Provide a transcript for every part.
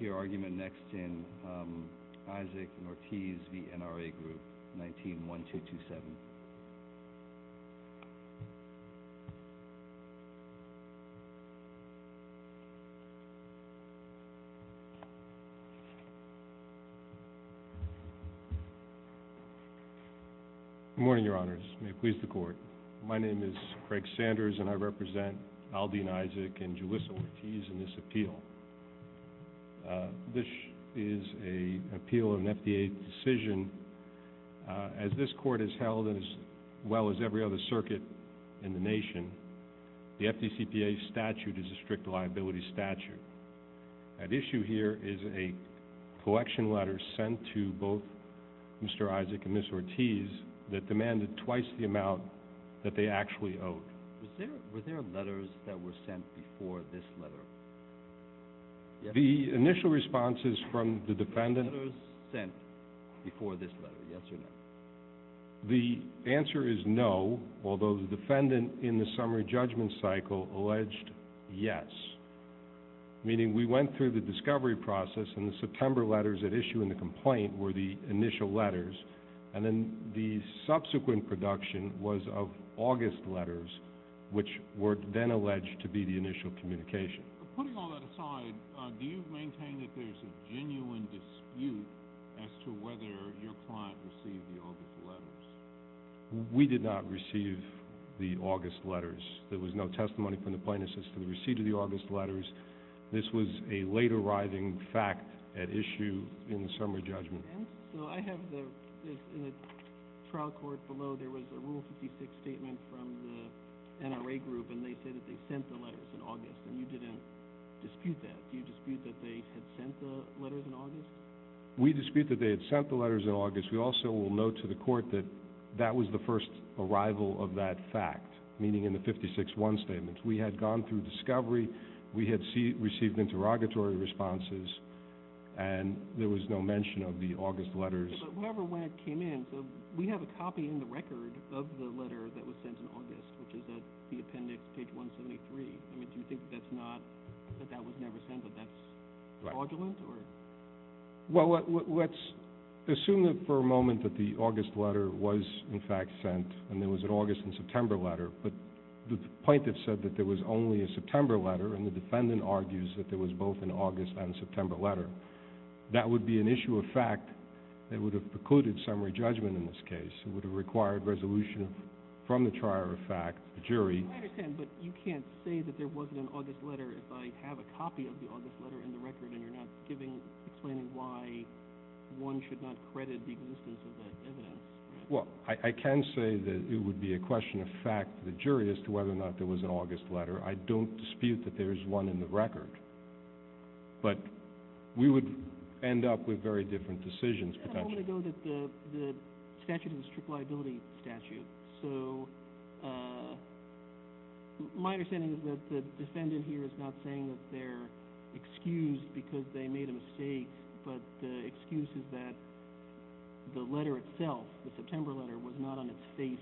Your argument next in, um, Isaac Nortiz v. NRA Group, 19-1227. Good morning, Your Honors. May it please the Court. My name is Craig Sanders, and I represent Aldine Isaac and Julissa Nortiz in this appeal. This is an appeal of an FDA decision. As this Court has held, as well as every other circuit in the nation, the FDCPA statute is a strict liability statute. At issue here is a collection letter sent to both Mr. Isaac and Ms. Nortiz that demanded twice the amount that they actually owed. Were there letters that were sent before this letter? The initial responses from the defendant... Were there letters sent before this letter, yes or no? The answer is no, although the defendant in the summary judgment cycle alleged yes, meaning we went through the discovery process, and the September letters at issue in the complaint were the initial letters, and then the subsequent production was of August letters, which were then alleged to be the initial communication. Putting all that aside, do you maintain that there's a genuine dispute as to whether your client received the August letters? We did not receive the August letters. There was no testimony from the plaintiffs as to the receipt of the August letters. This was a late-arriving fact at issue in the summary judgment. I have the trial court below. There was a Rule 56 statement from the NRA group, and they say that they sent the letters in August, and you didn't dispute that. Do you dispute that they had sent the letters in August? We dispute that they had sent the letters in August. We also will note to the court that that was the first arrival of that fact, meaning in the 56-1 statement. We had gone through discovery. We had received interrogatory responses, and there was no mention of the August letters. However, when it came in, we have a copy in the record of the letter that was sent in August, which is at the appendix, page 173. Do you think that's not, that that was never sent, that that's fraudulent? Well, let's assume for a moment that the August letter was in fact sent, and there was an August and September letter, but the plaintiff said that there was only a September letter, and the defendant argues that there was both an August and September letter. That would be an issue of fact that would have precluded summary judgment in this case. It would have required resolution from the trier of fact, the jury. I understand, but you can't say that there wasn't an August letter if I have a copy of the August letter in the record, and you're not giving, explaining why one should not credit the existence of the evidence. Well, I can say that it would be a question of fact for the jury as to whether or not there was an August letter. I don't dispute that there is one in the record, but we would end up with very different decisions potentially. A moment ago that the statute is a strict liability statute, so my understanding is that the defendant here is not saying that they're excused because they made a mistake, but the excuse is that the letter itself, the September letter, was not on its face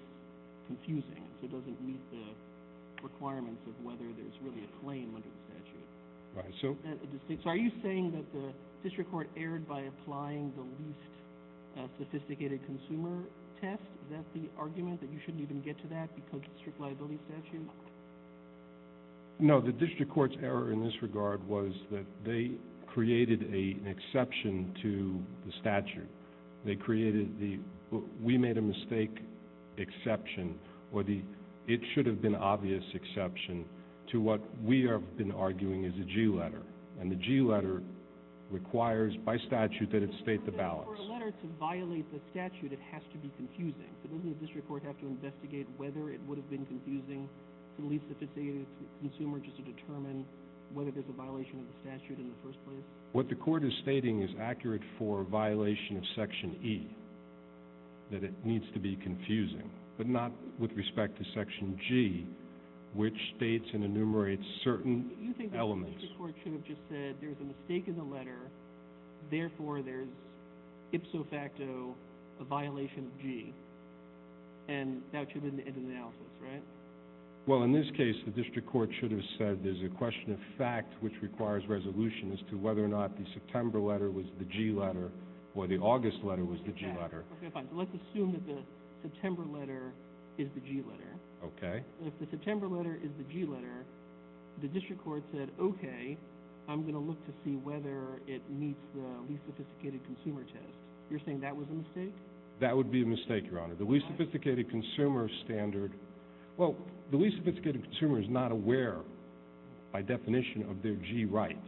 confusing. It doesn't meet the requirements of whether there's really a claim under the statute. Are you saying that the district court erred by applying the least sophisticated consumer test? Is that the argument, that you shouldn't even get to that because it's a strict liability statute? No, the district court's error in this regard was that they created an exception to the statute. We made a mistake exception, or it should have been an obvious exception, to what we have been arguing is a G letter, and the G letter requires by statute that it state the balance. For a letter to violate the statute, it has to be confusing. Doesn't the district court have to investigate whether it would have been confusing to the least sophisticated consumer just to determine whether there's a violation of the statute in the first place? What the court is stating is accurate for a violation of Section E, that it needs to be confusing, but not with respect to Section G, which states and enumerates certain elements. You think the district court should have just said there's a mistake in the letter, therefore there's ipso facto a violation of G, and that should have been the end of the analysis, right? Well, in this case, the district court should have said there's a question of fact which requires resolution as to whether or not the September letter was the G letter or the August letter was the G letter. Okay, fine. So let's assume that the September letter is the G letter. Okay. If the September letter is the G letter, the district court said, okay, I'm going to look to see whether it meets the least sophisticated consumer test. You're saying that was a mistake? That would be a mistake, Your Honor. Why? The least sophisticated consumer standard, Well, the least sophisticated consumer is not aware, by definition, of their G rights.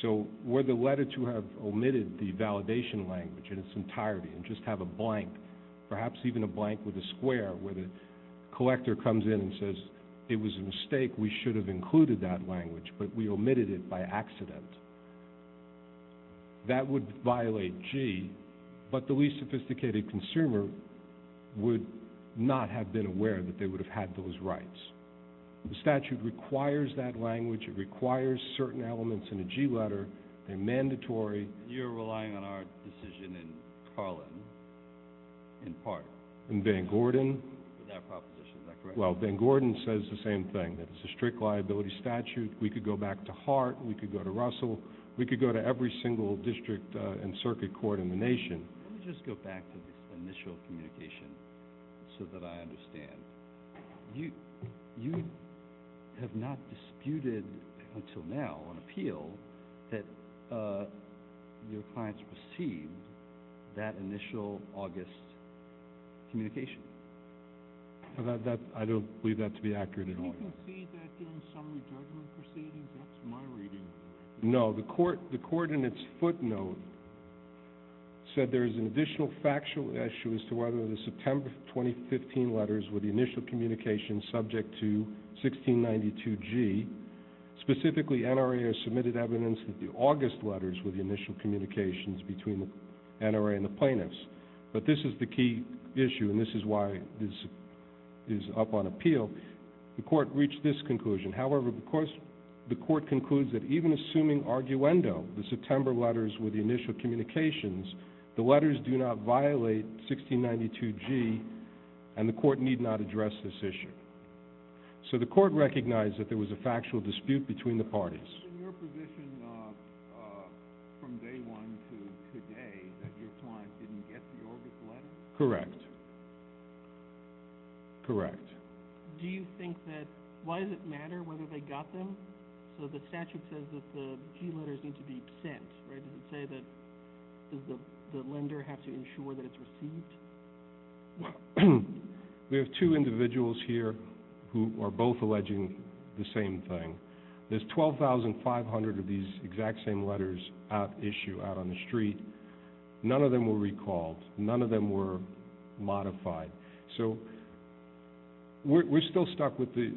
So were the letter to have omitted the validation language in its entirety and just have a blank, perhaps even a blank with a square, where the collector comes in and says it was a mistake, we should have included that language, but we omitted it by accident, that would violate G, but the least sophisticated consumer would not have been aware that they would have had those rights. The statute requires that language. It requires certain elements in the G letter. They're mandatory. You're relying on our decision in Carlin, in part. In Van Gordon? In that proposition, is that correct? Well, Van Gordon says the same thing, that it's a strict liability statute. We could go back to Hart. We could go to Russell. We could go to every single district and circuit court in the nation. Let me just go back to this initial communication so that I understand. You have not disputed until now on appeal that your clients received that initial August communication. I don't believe that to be accurate at all. Did you concede that during the summary judgment proceedings? That's my reading. No. The court in its footnote said there is an additional factual issue as to whether the September 2015 letters were the initial communication subject to 1692G. Specifically, NRA has submitted evidence that the August letters were the initial communications between the NRA and the plaintiffs. But this is the key issue, and this is why this is up on appeal. The court reached this conclusion. However, the court concludes that even assuming arguendo, the September letters were the initial communications, the letters do not violate 1692G, and the court need not address this issue. So the court recognized that there was a factual dispute between the parties. Is it in your position from day one to today that your clients didn't get the August letters? Correct. Correct. Do you think that why does it matter whether they got them? So the statute says that the G letters need to be sent, right? Does it say that the lender has to ensure that it's received? We have two individuals here who are both alleging the same thing. There's 12,500 of these exact same letters at issue out on the street. None of them were recalled. None of them were modified. So we're still stuck with the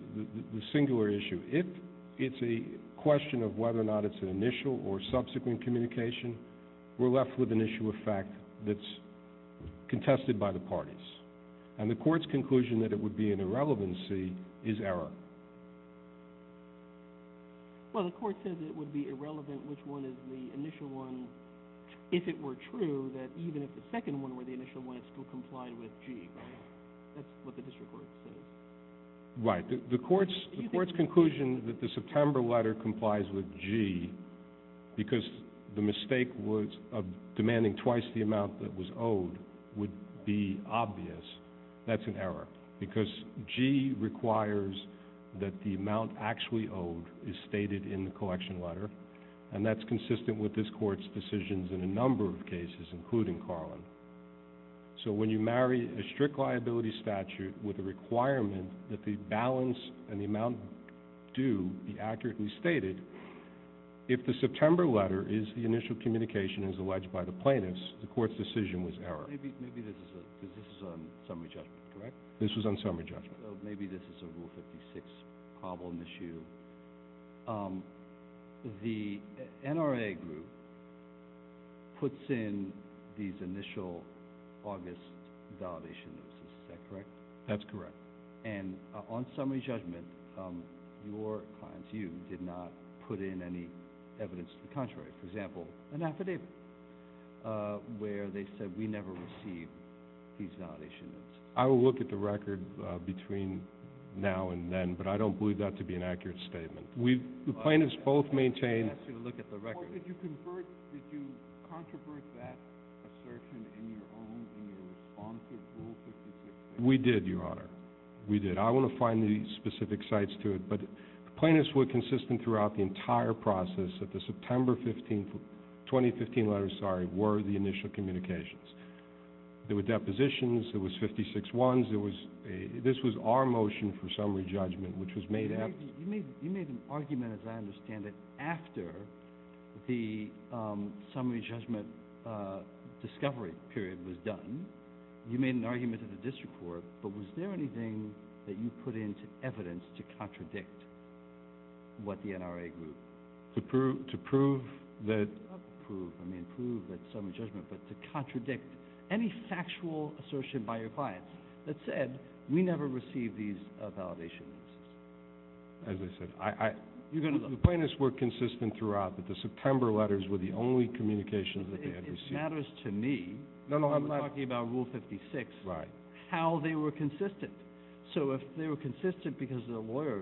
singular issue. If it's a question of whether or not it's an initial or subsequent communication, we're left with an issue of fact that's contested by the parties. And the court's conclusion that it would be an irrelevancy is error. Well, the court says it would be irrelevant which one is the initial one if it were true that even if the second one were the initial one, it still complied with G, right? That's what the district court says. Right. The court's conclusion that the September letter complies with G because the mistake was of demanding twice the amount that was owed would be obvious. That's an error because G requires that the amount actually owed is stated in the collection letter, and that's consistent with this court's decisions in a number of cases, including Carlin. So when you marry a strict liability statute with a requirement that the balance and the amount due be accurately stated, if the September letter is the initial communication as alleged by the plaintiffs, the court's decision was error. Maybe this is a summary judgment, correct? This was on summary judgment. Maybe this is a Rule 56 problem issue. The NRA group puts in these initial August validation notes. Is that correct? That's correct. And on summary judgment, your clients, you, did not put in any evidence to the contrary. For example, an affidavit where they said we never received these validation notes. I will look at the record between now and then, but I don't believe that to be an accurate statement. The plaintiffs both maintained. I'm going to ask you to look at the record. Did you convert, did you controvert that assertion in your own, in your response to Rule 56? We did, Your Honor. We did. I want to find the specific sites to it, but the plaintiffs were consistent throughout the entire process that the September 15th, 2015 letters, sorry, were the initial communications. There were depositions. There was 56-1s. There was a, this was our motion for summary judgment, which was made after. You made an argument, as I understand it, after the summary judgment discovery period was done. You made an argument at the district court, but was there anything that you put into evidence to contradict what the NRA group. To prove that. Not prove, I mean prove that summary judgment, but to contradict any factual assertion by your clients that said we never received these validation notes. As I said, I. You're going to look. The plaintiffs were consistent throughout, but the September letters were the only communications that they had received. It matters to me. No, no, I'm not. I'm talking about Rule 56. Right. How they were consistent. So if they were consistent because the lawyer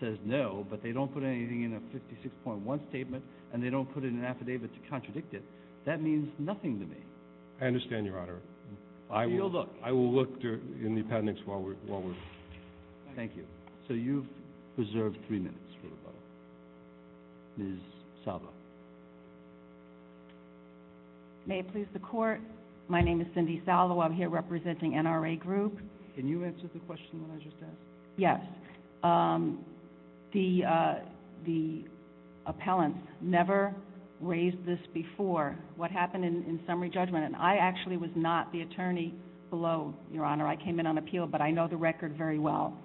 says no, but they don't put anything in a 56.1 statement and they don't put it in an affidavit to contradict it, that means nothing to me. I understand, Your Honor. You'll look. I will look in the appendix while we're. Thank you. So you've reserved three minutes for the model. Ms. Salvo. May it please the Court. My name is Cindy Salvo. I'm here representing NRA Group. Can you answer the question that I just asked? Yes. The appellants never raised this before, what happened in summary judgment, and I actually was not the attorney below, Your Honor. I came in on appeal, but I know the record very well.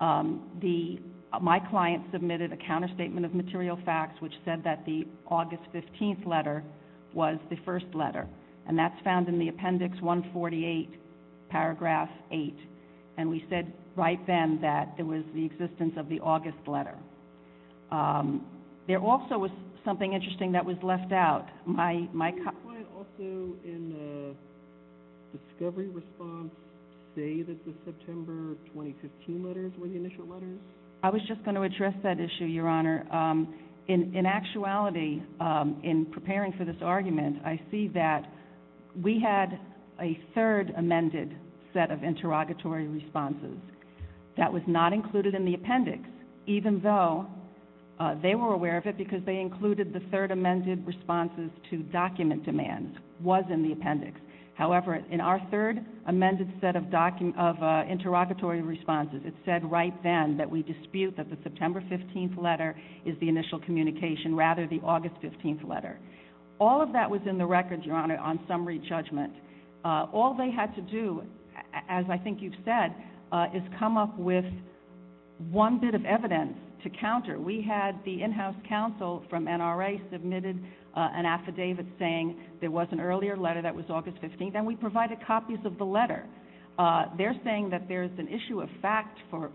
My client submitted a counterstatement of material facts, which said that the August 15th letter was the first letter, and that's found in the Appendix 148, Paragraph 8. And we said right then that it was the existence of the August letter. There also was something interesting that was left out. My client also, in the discovery response, say that the September 2015 letters were the initial letters. I was just going to address that issue, Your Honor. In actuality, in preparing for this argument, I see that we had a third amended set of interrogatory responses. That was not included in the appendix, even though they were aware of it because they included the third amended responses to document demands was in the appendix. However, in our third amended set of interrogatory responses, it said right then that we dispute that the September 15th letter is the initial communication, rather the August 15th letter. All of that was in the records, Your Honor, on summary judgment. All they had to do, as I think you've said, is come up with one bit of evidence to counter. We had the in-house counsel from NRA submitted an affidavit saying there was an earlier letter that was August 15th, and we provided copies of the letter. They're saying that there's an issue of fact for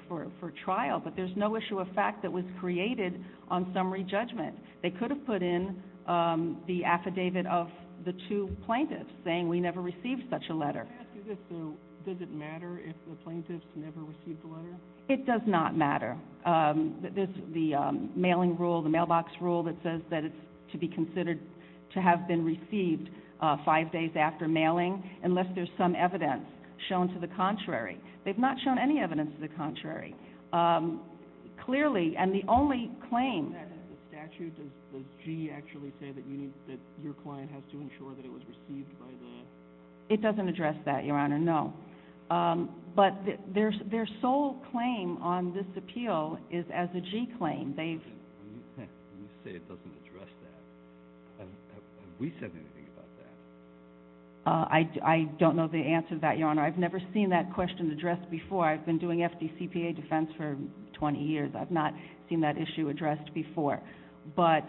trial, but there's no issue of fact that was created on summary judgment. They could have put in the affidavit of the two plaintiffs saying we never received such a letter. Can I ask you this, though? Does it matter if the plaintiffs never received the letter? It does not matter. There's the mailing rule, the mailbox rule, that says that it's to be considered to have been received five days after mailing unless there's some evidence shown to the contrary. They've not shown any evidence to the contrary. Clearly, and the only claim... Is that in the statute? Does G actually say that your client has to ensure that it was received by the... It doesn't address that, Your Honor, no. But their sole claim on this appeal is as a G claim. You say it doesn't address that. Have we said anything about that? I don't know the answer to that, Your Honor. I've never seen that question addressed before. I've been doing FDCPA defense for 20 years. I've not seen that issue addressed before. But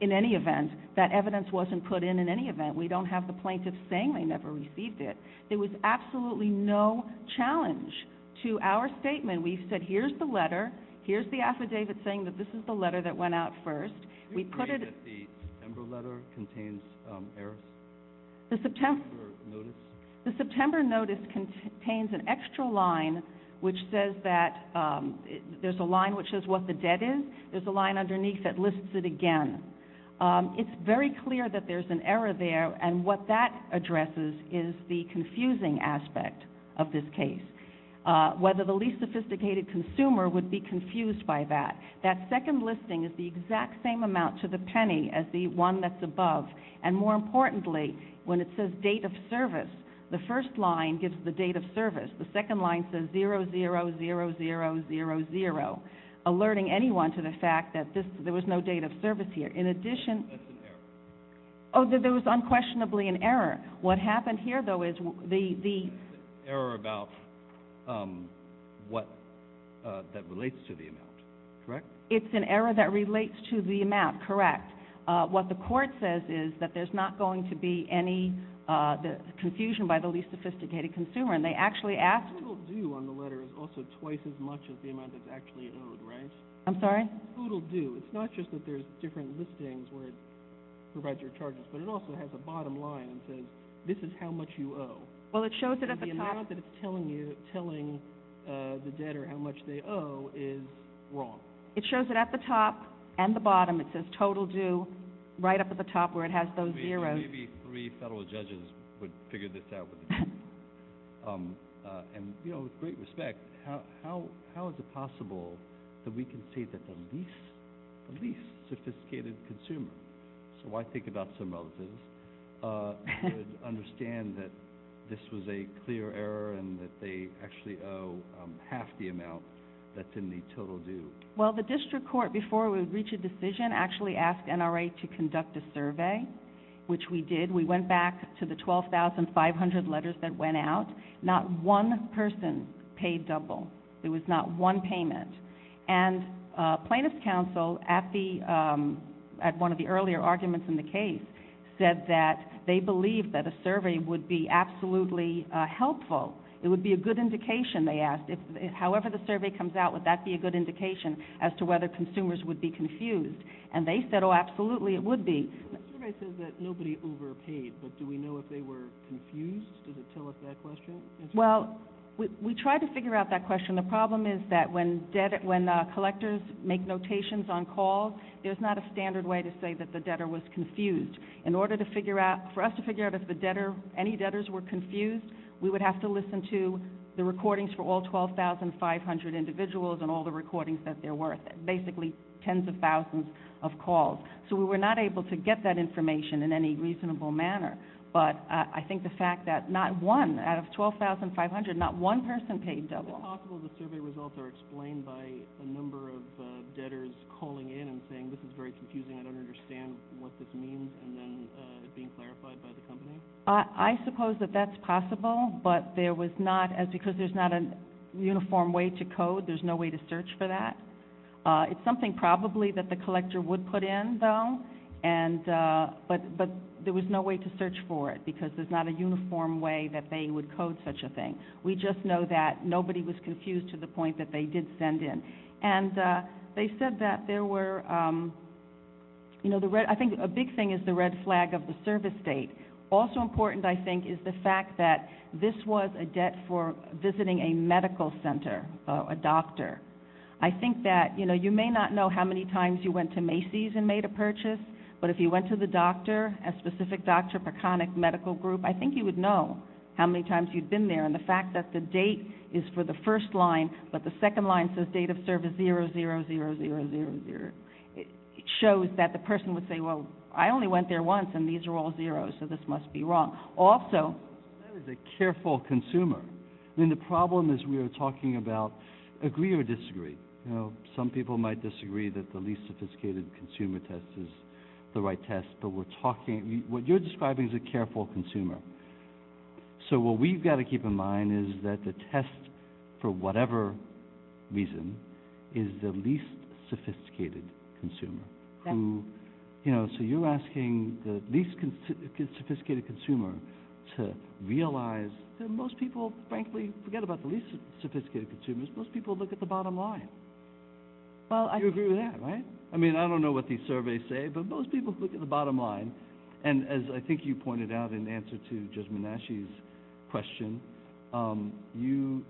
in any event, that evidence wasn't put in in any event. We don't have the plaintiffs saying they never received it. There was absolutely no challenge to our statement. We've said here's the letter, here's the affidavit saying that this is the letter that went out first. Do you agree that the September letter contains errors? The September notice? The September notice contains an extra line which says that there's a line which says what the debt is. There's a line underneath that lists it again. It's very clear that there's an error there, and what that addresses is the confusing aspect of this case. Whether the least sophisticated consumer would be confused by that. That second listing is the exact same amount to the penny as the one that's above. And more importantly, when it says date of service, the first line gives the date of service. The second line says 0-0-0-0-0-0, alerting anyone to the fact that there was no date of service here. In addition- That's an error. Oh, there was unquestionably an error. What happened here, though, is the- It's an error about what that relates to the amount, correct? It's an error that relates to the amount, correct. What the court says is that there's not going to be any confusion by the least sophisticated consumer. And they actually asked- Total due on the letter is also twice as much as the amount that's actually owed, right? I'm sorry? Total due. It's not just that there's different listings where it provides your charges, but it also has a bottom line that says this is how much you owe. Well, it shows it at the top- The amount that it's telling the debtor how much they owe is wrong. It shows it at the top and the bottom. It says total due right up at the top where it has those zeros. Maybe three federal judges would figure this out. And, you know, with great respect, how is it possible that we can say that the least sophisticated consumer- so I think about some relatives- would understand that this was a clear error and that they actually owe half the amount that's in the total due? Well, the district court, before we would reach a decision, actually asked NRA to conduct a survey, which we did. We went back to the 12,500 letters that went out. Not one person paid double. There was not one payment. And plaintiff's counsel at one of the earlier arguments in the case said that they believed that a survey would be absolutely helpful. It would be a good indication, they asked. However the survey comes out, would that be a good indication as to whether consumers would be confused? And they said, oh, absolutely, it would be. The survey says that nobody overpaid, but do we know if they were confused? Does it tell us that question? Well, we tried to figure out that question. The problem is that when collectors make notations on calls, there's not a standard way to say that the debtor was confused. In order for us to figure out if any debtors were confused, we would have to listen to the recordings for all 12,500 individuals and all the recordings that they're worth, basically tens of thousands of calls. So we were not able to get that information in any reasonable manner. But I think the fact that not one, out of 12,500, not one person paid double. Is it possible the survey results are explained by a number of debtors calling in and saying, this is very confusing, I don't understand what this means, and then it being clarified by the company? I suppose that that's possible, but there was not, because there's not a uniform way to code, there's no way to search for that. It's something probably that the collector would put in, though, but there was no way to search for it because there's not a uniform way that they would code such a thing. We just know that nobody was confused to the point that they did send in. And they said that there were, you know, I think a big thing is the red flag of the service date. Also important, I think, is the fact that this was a debt for visiting a medical center, a doctor. I think that, you know, you may not know how many times you went to Macy's and made a purchase, but if you went to the doctor, a specific doctor, Peconic Medical Group, I think you would know how many times you'd been there. And the fact that the date is for the first line, but the second line says date of service 00000, it shows that the person would say, well, I only went there once, and these are all zeros, so this must be wrong. Also, that is a careful consumer. I mean, the problem is we are talking about agree or disagree. You know, some people might disagree that the least sophisticated consumer test is the right test, but we're talking, what you're describing is a careful consumer. So what we've got to keep in mind is that the test, for whatever reason, is the least sophisticated consumer. So you're asking the least sophisticated consumer to realize that most people, frankly, forget about the least sophisticated consumers, most people look at the bottom line. You agree with that, right? I mean, I don't know what these surveys say, but most people look at the bottom line, and as I think you pointed out in answer to Judge Menasche's question, you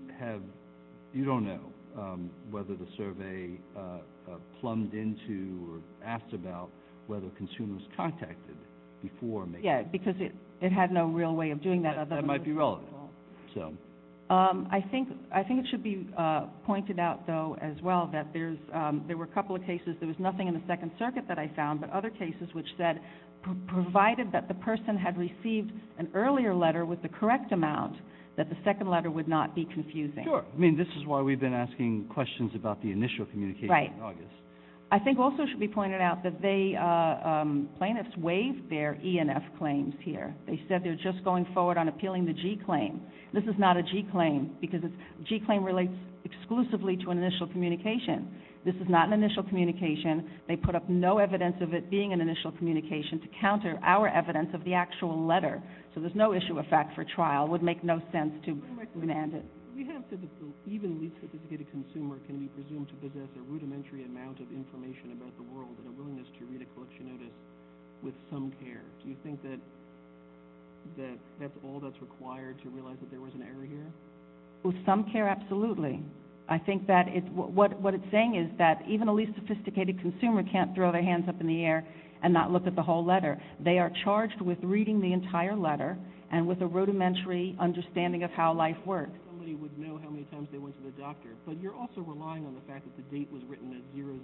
don't know whether the survey plumbed into or asked about whether consumers contacted before making the survey. Yes, because it had no real way of doing that other than to look at the bottom line. That might be relevant. I think it should be pointed out, though, as well, that there were a couple of cases, there was nothing in the Second Circuit that I found, but other cases which said, provided that the person had received an earlier letter with the correct amount, that the second letter would not be confusing. Sure. I mean, this is why we've been asking questions about the initial communication in August. Right. I think also it should be pointed out that they, plaintiffs waived their E and F claims here. They said they were just going forward on appealing the G claim. This is not a G claim, because a G claim relates exclusively to an initial communication. This is not an initial communication. They put up no evidence of it being an initial communication to counter our evidence of the actual letter. So there's no issue of fact for trial. It would make no sense to demand it. We have said that even the least-sophisticated consumer can be presumed to possess a rudimentary amount of information about the world and a willingness to read a collection notice with some care. Do you think that that's all that's required to realize that there was an error here? With some care, absolutely. I think that what it's saying is that even a least-sophisticated consumer can't throw their hands up in the air and not look at the whole letter. They are charged with reading the entire letter and with a rudimentary understanding of how life works. Somebody would know how many times they went to the doctor. But you're also relying on the fact that the date was written as 00000.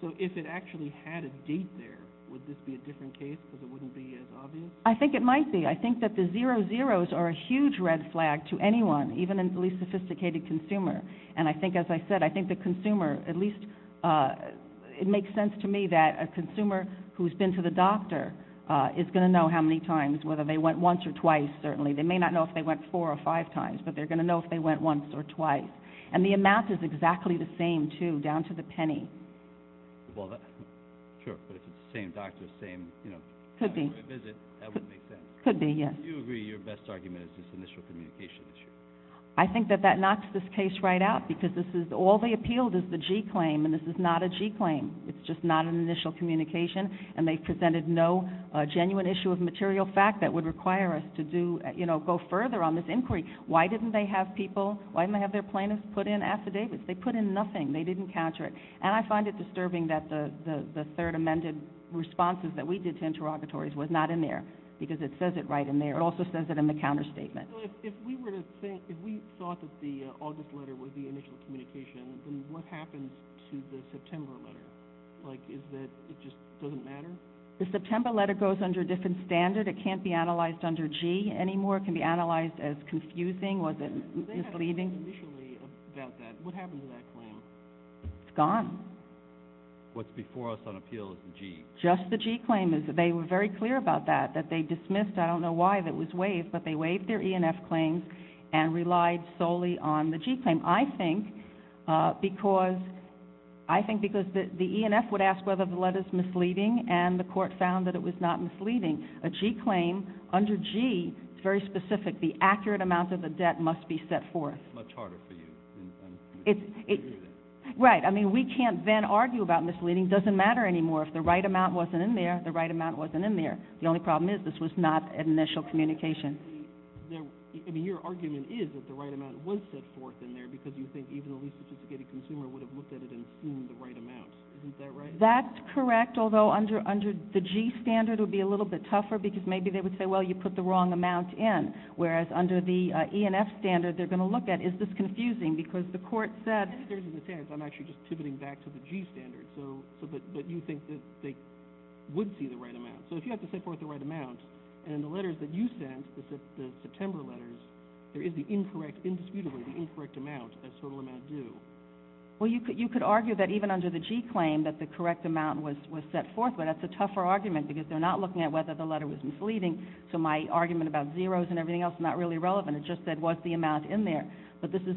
So if it actually had a date there, would this be a different case because it wouldn't be as obvious? I think it might be. I think that the 00s are a huge red flag to anyone, even a least-sophisticated consumer. And I think, as I said, I think the consumer, at least it makes sense to me that a consumer who has been to the doctor is going to know how many times, whether they went once or twice, certainly. They may not know if they went four or five times, but they're going to know if they went once or twice. And the amount is exactly the same, too, down to the penny. Well, sure, but if it's the same doctor, same, you know, having a visit, that wouldn't make sense. Could be, yes. Do you agree your best argument is this initial communication issue? I think that that knocks this case right out because this is all they appealed is the G claim, and this is not a G claim. It's just not an initial communication, and they presented no genuine issue of material fact that would require us to go further on this inquiry. Why didn't they have people, why didn't they have their plaintiffs put in affidavits? They put in nothing. They didn't counter it. And I find it disturbing that the third amended responses that we did to interrogatories was not in there because it says it right in there. It also says it in the counterstatement. If we were to think, if we thought that the August letter was the initial communication, then what happens to the September letter? Like, is that it just doesn't matter? The September letter goes under a different standard. It can't be analyzed under G anymore. It can be analyzed as confusing. Was it misleading? They had a claim initially about that. What happened to that claim? It's gone. What's before us on appeal is the G. Just the G claim. They were very clear about that, that they dismissed, I don't know why it was waived, but they waived their E&F claims and relied solely on the G claim. I think because the E&F would ask whether the letter is misleading, and the court found that it was not misleading. A G claim under G is very specific. The accurate amount of the debt must be set forth. Much harder for you. Right. I mean, we can't then argue about misleading. It doesn't matter anymore. If the right amount wasn't in there, the right amount wasn't in there. The only problem is this was not initial communication. I mean, your argument is that the right amount was set forth in there because you think even the least sophisticated consumer would have looked at it and seen the right amount. Isn't that right? That's correct, although under the G standard it would be a little bit tougher because maybe they would say, well, you put the wrong amount in, whereas under the E&F standard they're going to look at, is this confusing? Because the court said... I'm actually just pivoting back to the G standard. But you think that they would see the right amount. So if you have to set forth the right amount, and in the letters that you sent, the September letters, there is the incorrect, indisputably the incorrect amount as total amount due. Well, you could argue that even under the G claim that the correct amount was set forth, but that's a tougher argument because they're not looking at whether the letter was misleading. So my argument about zeros and everything else is not really relevant. It just said was the amount in there. But this is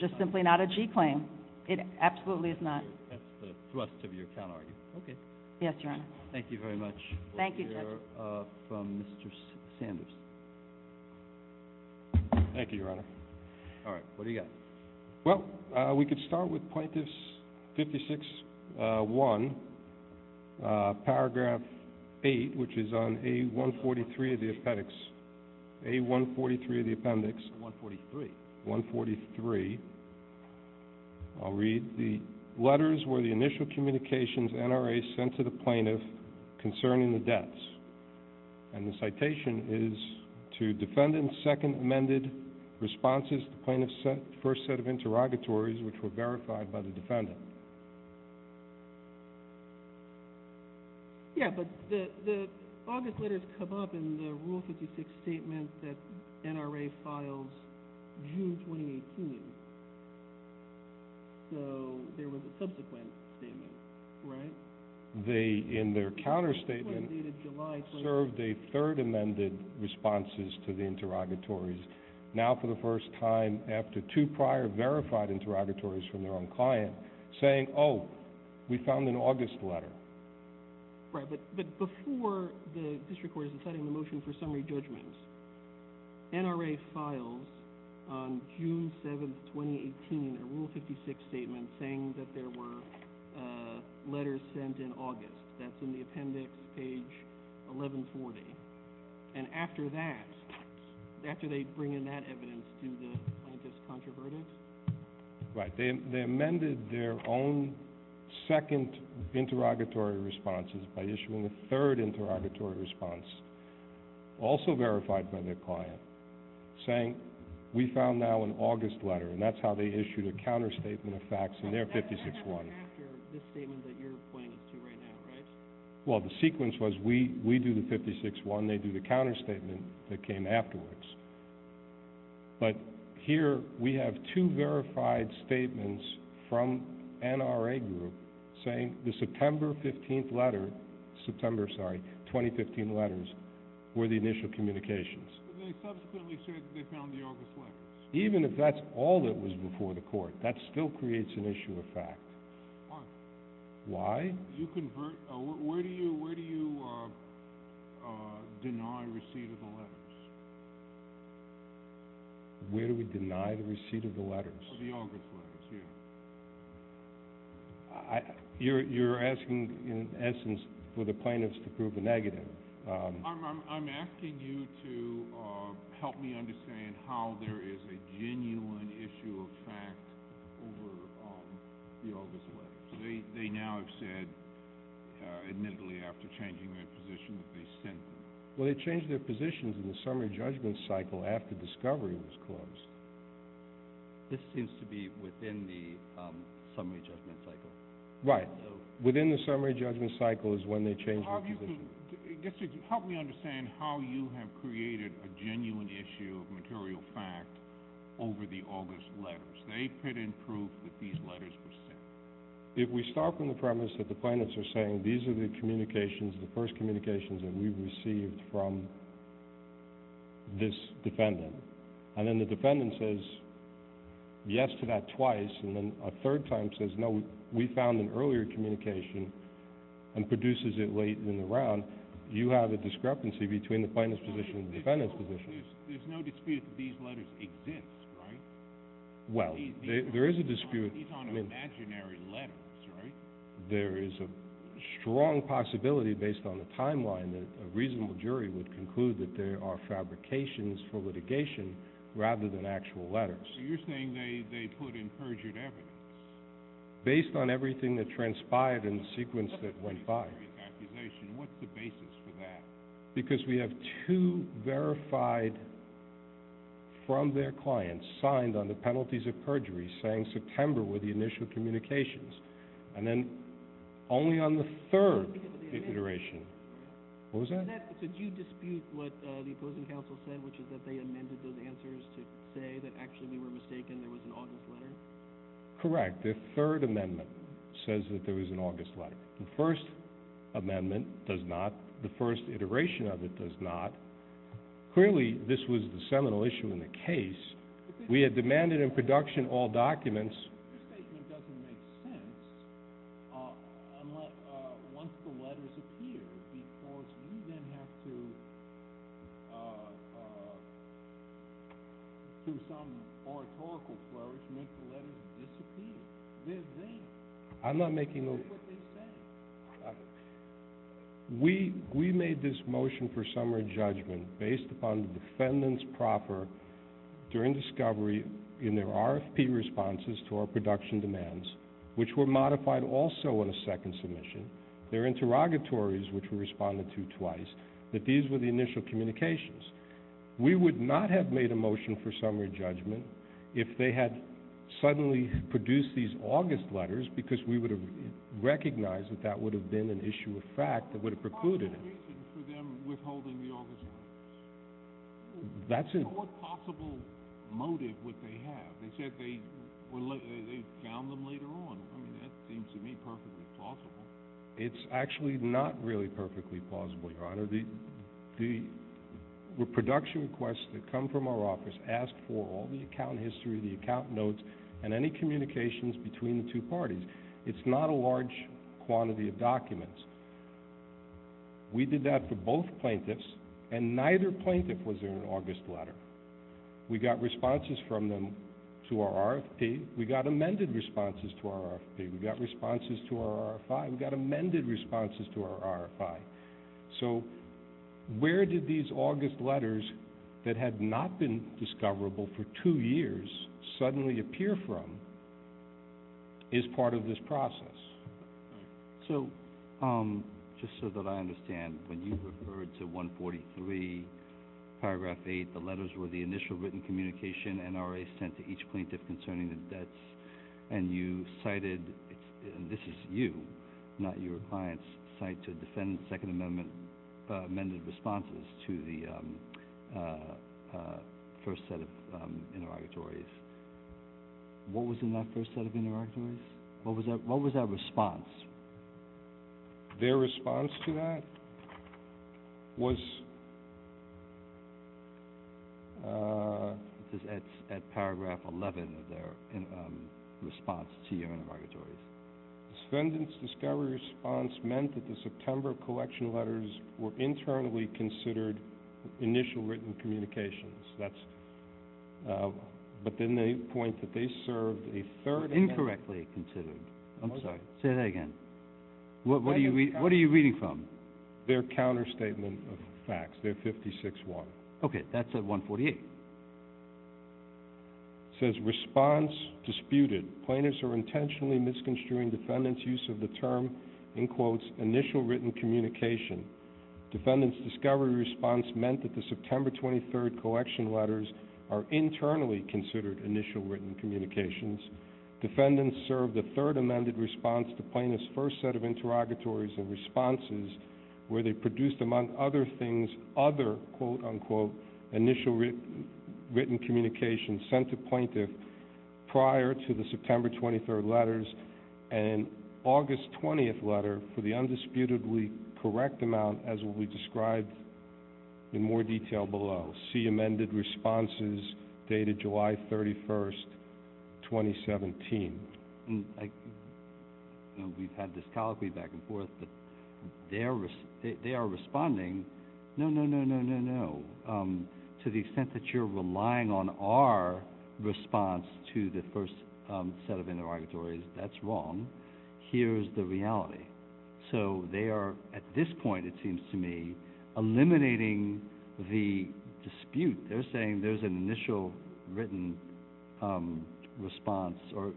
just simply not a G claim. It absolutely is not. That's the thrust of your counterargument. Okay. Yes, Your Honor. Thank you very much. Thank you, Judge. We'll hear from Mr. Sanders. Thank you, Your Honor. All right, what do you got? Well, we could start with Plaintiffs 56-1, paragraph 8, which is on A143 of the appendix. A143 of the appendix. 143. 143. I'll read. The letters were the initial communications NRA sent to the plaintiff concerning the deaths. And the citation is to defendant's second amended responses to plaintiff's first set of interrogatories, which were verified by the defendant. Yeah, but the August letters come up in the Rule 56 statement that NRA files June 2018. So there was a subsequent statement, right? They, in their counterstatement, served a third amended responses to the interrogatories. Now, for the first time after two prior verified interrogatories from their own client, saying, oh, we found an August letter. Right, but before the district court is deciding the motion for summary judgments, NRA files on June 7, 2018, a Rule 56 statement saying that there were letters sent in August. That's in the appendix, page 1140. And after that, after they bring in that evidence to the plaintiff's controversy? Right. They amended their own second interrogatory responses by issuing a third interrogatory response, also verified by their client, saying, we found now an August letter. And that's how they issued a counterstatement of facts in their 56-1. That's after this statement that you're pointing to right now, right? Well, the sequence was we do the 56-1, they do the counterstatement that came afterwards. But here we have two verified statements from NRA group saying the September 15th letter, September, sorry, 2015 letters were the initial communications. But they subsequently said that they found the August letters. Even if that's all that was before the court, that still creates an issue of fact. Why? Why? You convert, where do you deny receipt of the letters? Where do we deny the receipt of the letters? The August letters, yeah. You're asking, in essence, for the plaintiffs to prove the negative. I'm asking you to help me understand how there is a genuine issue of fact over the August letters. They now have said, admittedly, after changing their position, that they sent them. Well, they changed their positions in the summary judgment cycle after discovery was closed. This seems to be within the summary judgment cycle. Right. Within the summary judgment cycle is when they changed their position. Help me understand how you have created a genuine issue of material fact over the August letters. They put in proof that these letters were sent. If we start from the premise that the plaintiffs are saying, these are the communications, the first communications that we received from this defendant, and then the defendant says yes to that twice and then a third time says, no, we found an earlier communication and produces it late in the round, you have a discrepancy between the plaintiff's position and the defendant's position. There's no dispute that these letters exist, right? Well, there is a dispute. These aren't imaginary letters, right? There is a strong possibility, based on the timeline, that a reasonable jury would conclude that there are fabrications for litigation rather than actual letters. So you're saying they put in perjured evidence? Based on everything that transpired in the sequence that went by. What's the basis for that? Because we have two verified from their clients signed on the penalties of perjury saying September were the initial communications. And then only on the third iteration. What was that? Did you dispute what the opposing counsel said, which is that they amended those answers to say that actually we were mistaken, there was an August letter? Correct. The third amendment says that there was an August letter. The first amendment does not. The first iteration of it does not. Clearly this was the seminal issue in the case. We had demanded in production all documents. Your statement doesn't make sense once the letters appear because you then have to, through some oratorical flourish, make the letters disappear. They're there. I'm not making those. That's what they say. We made this motion for summary judgment based upon the defendant's proffer during discovery in their RFP responses to our production demands, which were modified also in a second submission, their interrogatories, which we responded to twice, that these were the initial communications. We would not have made a motion for summary judgment if they had suddenly produced these August letters because we would have recognized that that would have been an issue of fact that would have precluded it. What was the reason for them withholding the August letters? What possible motive would they have? They said they found them later on. I mean, that seems to me perfectly plausible. It's actually not really perfectly plausible, Your Honor. The production requests that come from our office ask for all the account history, the account notes, and any communications between the two parties. It's not a large quantity of documents. We did that for both plaintiffs, and neither plaintiff was in an August letter. We got responses from them to our RFP. We got amended responses to our RFP. We got responses to our RFI. We got amended responses to our RFI. So where did these August letters that had not been discoverable for two years suddenly appear from as part of this process? So just so that I understand, when you referred to 143, paragraph 8, the letters were the initial written communication NRA sent to each plaintiff concerning the debts, and you cited, and this is you, not your clients, cite to defend Second Amendment amended responses to the first set of interrogatories. What was in that first set of interrogatories? What was that response? Their response to that was at paragraph 11 of their response to your interrogatories. The defendant's discovery response meant that the September collection letters were internally considered initial written communications, but then they point that they served a third amendment. Incorrectly considered. I'm sorry. Say that again. What are you reading from? Their counterstatement of facts. They're 56-1. Okay. That's at 148. It says, response disputed. Plaintiffs are intentionally misconstruing defendant's use of the term, in quotes, initial written communication. Defendant's discovery response meant that the September 23rd collection letters are internally considered initial written communications. Defendants served a third amended response to plaintiff's first set of interrogatories and responses where they produced, among other things, other, quote, unquote, initial written communications sent to plaintiff prior to the September 23rd letters and August 20th letter for the undisputedly correct amount as will be described in more detail below. See amended responses dated July 31st, 2017. We've had this colloquy back and forth, but they are responding, no, no, no, no, no, no. To the extent that you're relying on our response to the first set of interrogatories, that's wrong. Here's the reality. So they are, at this point it seems to me, eliminating the dispute. They're saying there's an initial written response or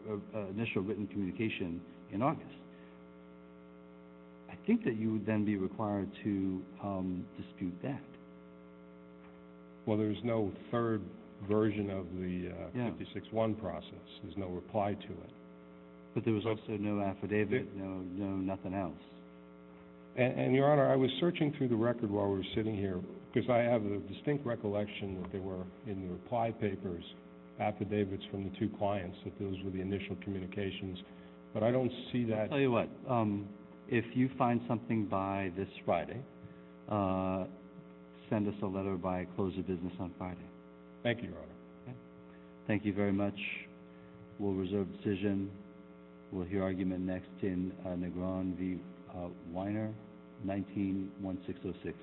initial written communication in August. I think that you would then be required to dispute that. Well, there's no third version of the 56-1 process. There's no reply to it. But there was also no affidavit, no nothing else. And, Your Honor, I was searching through the record while we were sitting here because I have a distinct recollection that there were, in the reply papers, affidavits from the two clients that those were the initial communications, but I don't see that. I'll tell you what, if you find something by this Friday, send us a letter by close of business on Friday. Thank you, Your Honor. Thank you very much. We'll reserve the decision. We'll hear argument next in Negron v. Weiner, 19-1606.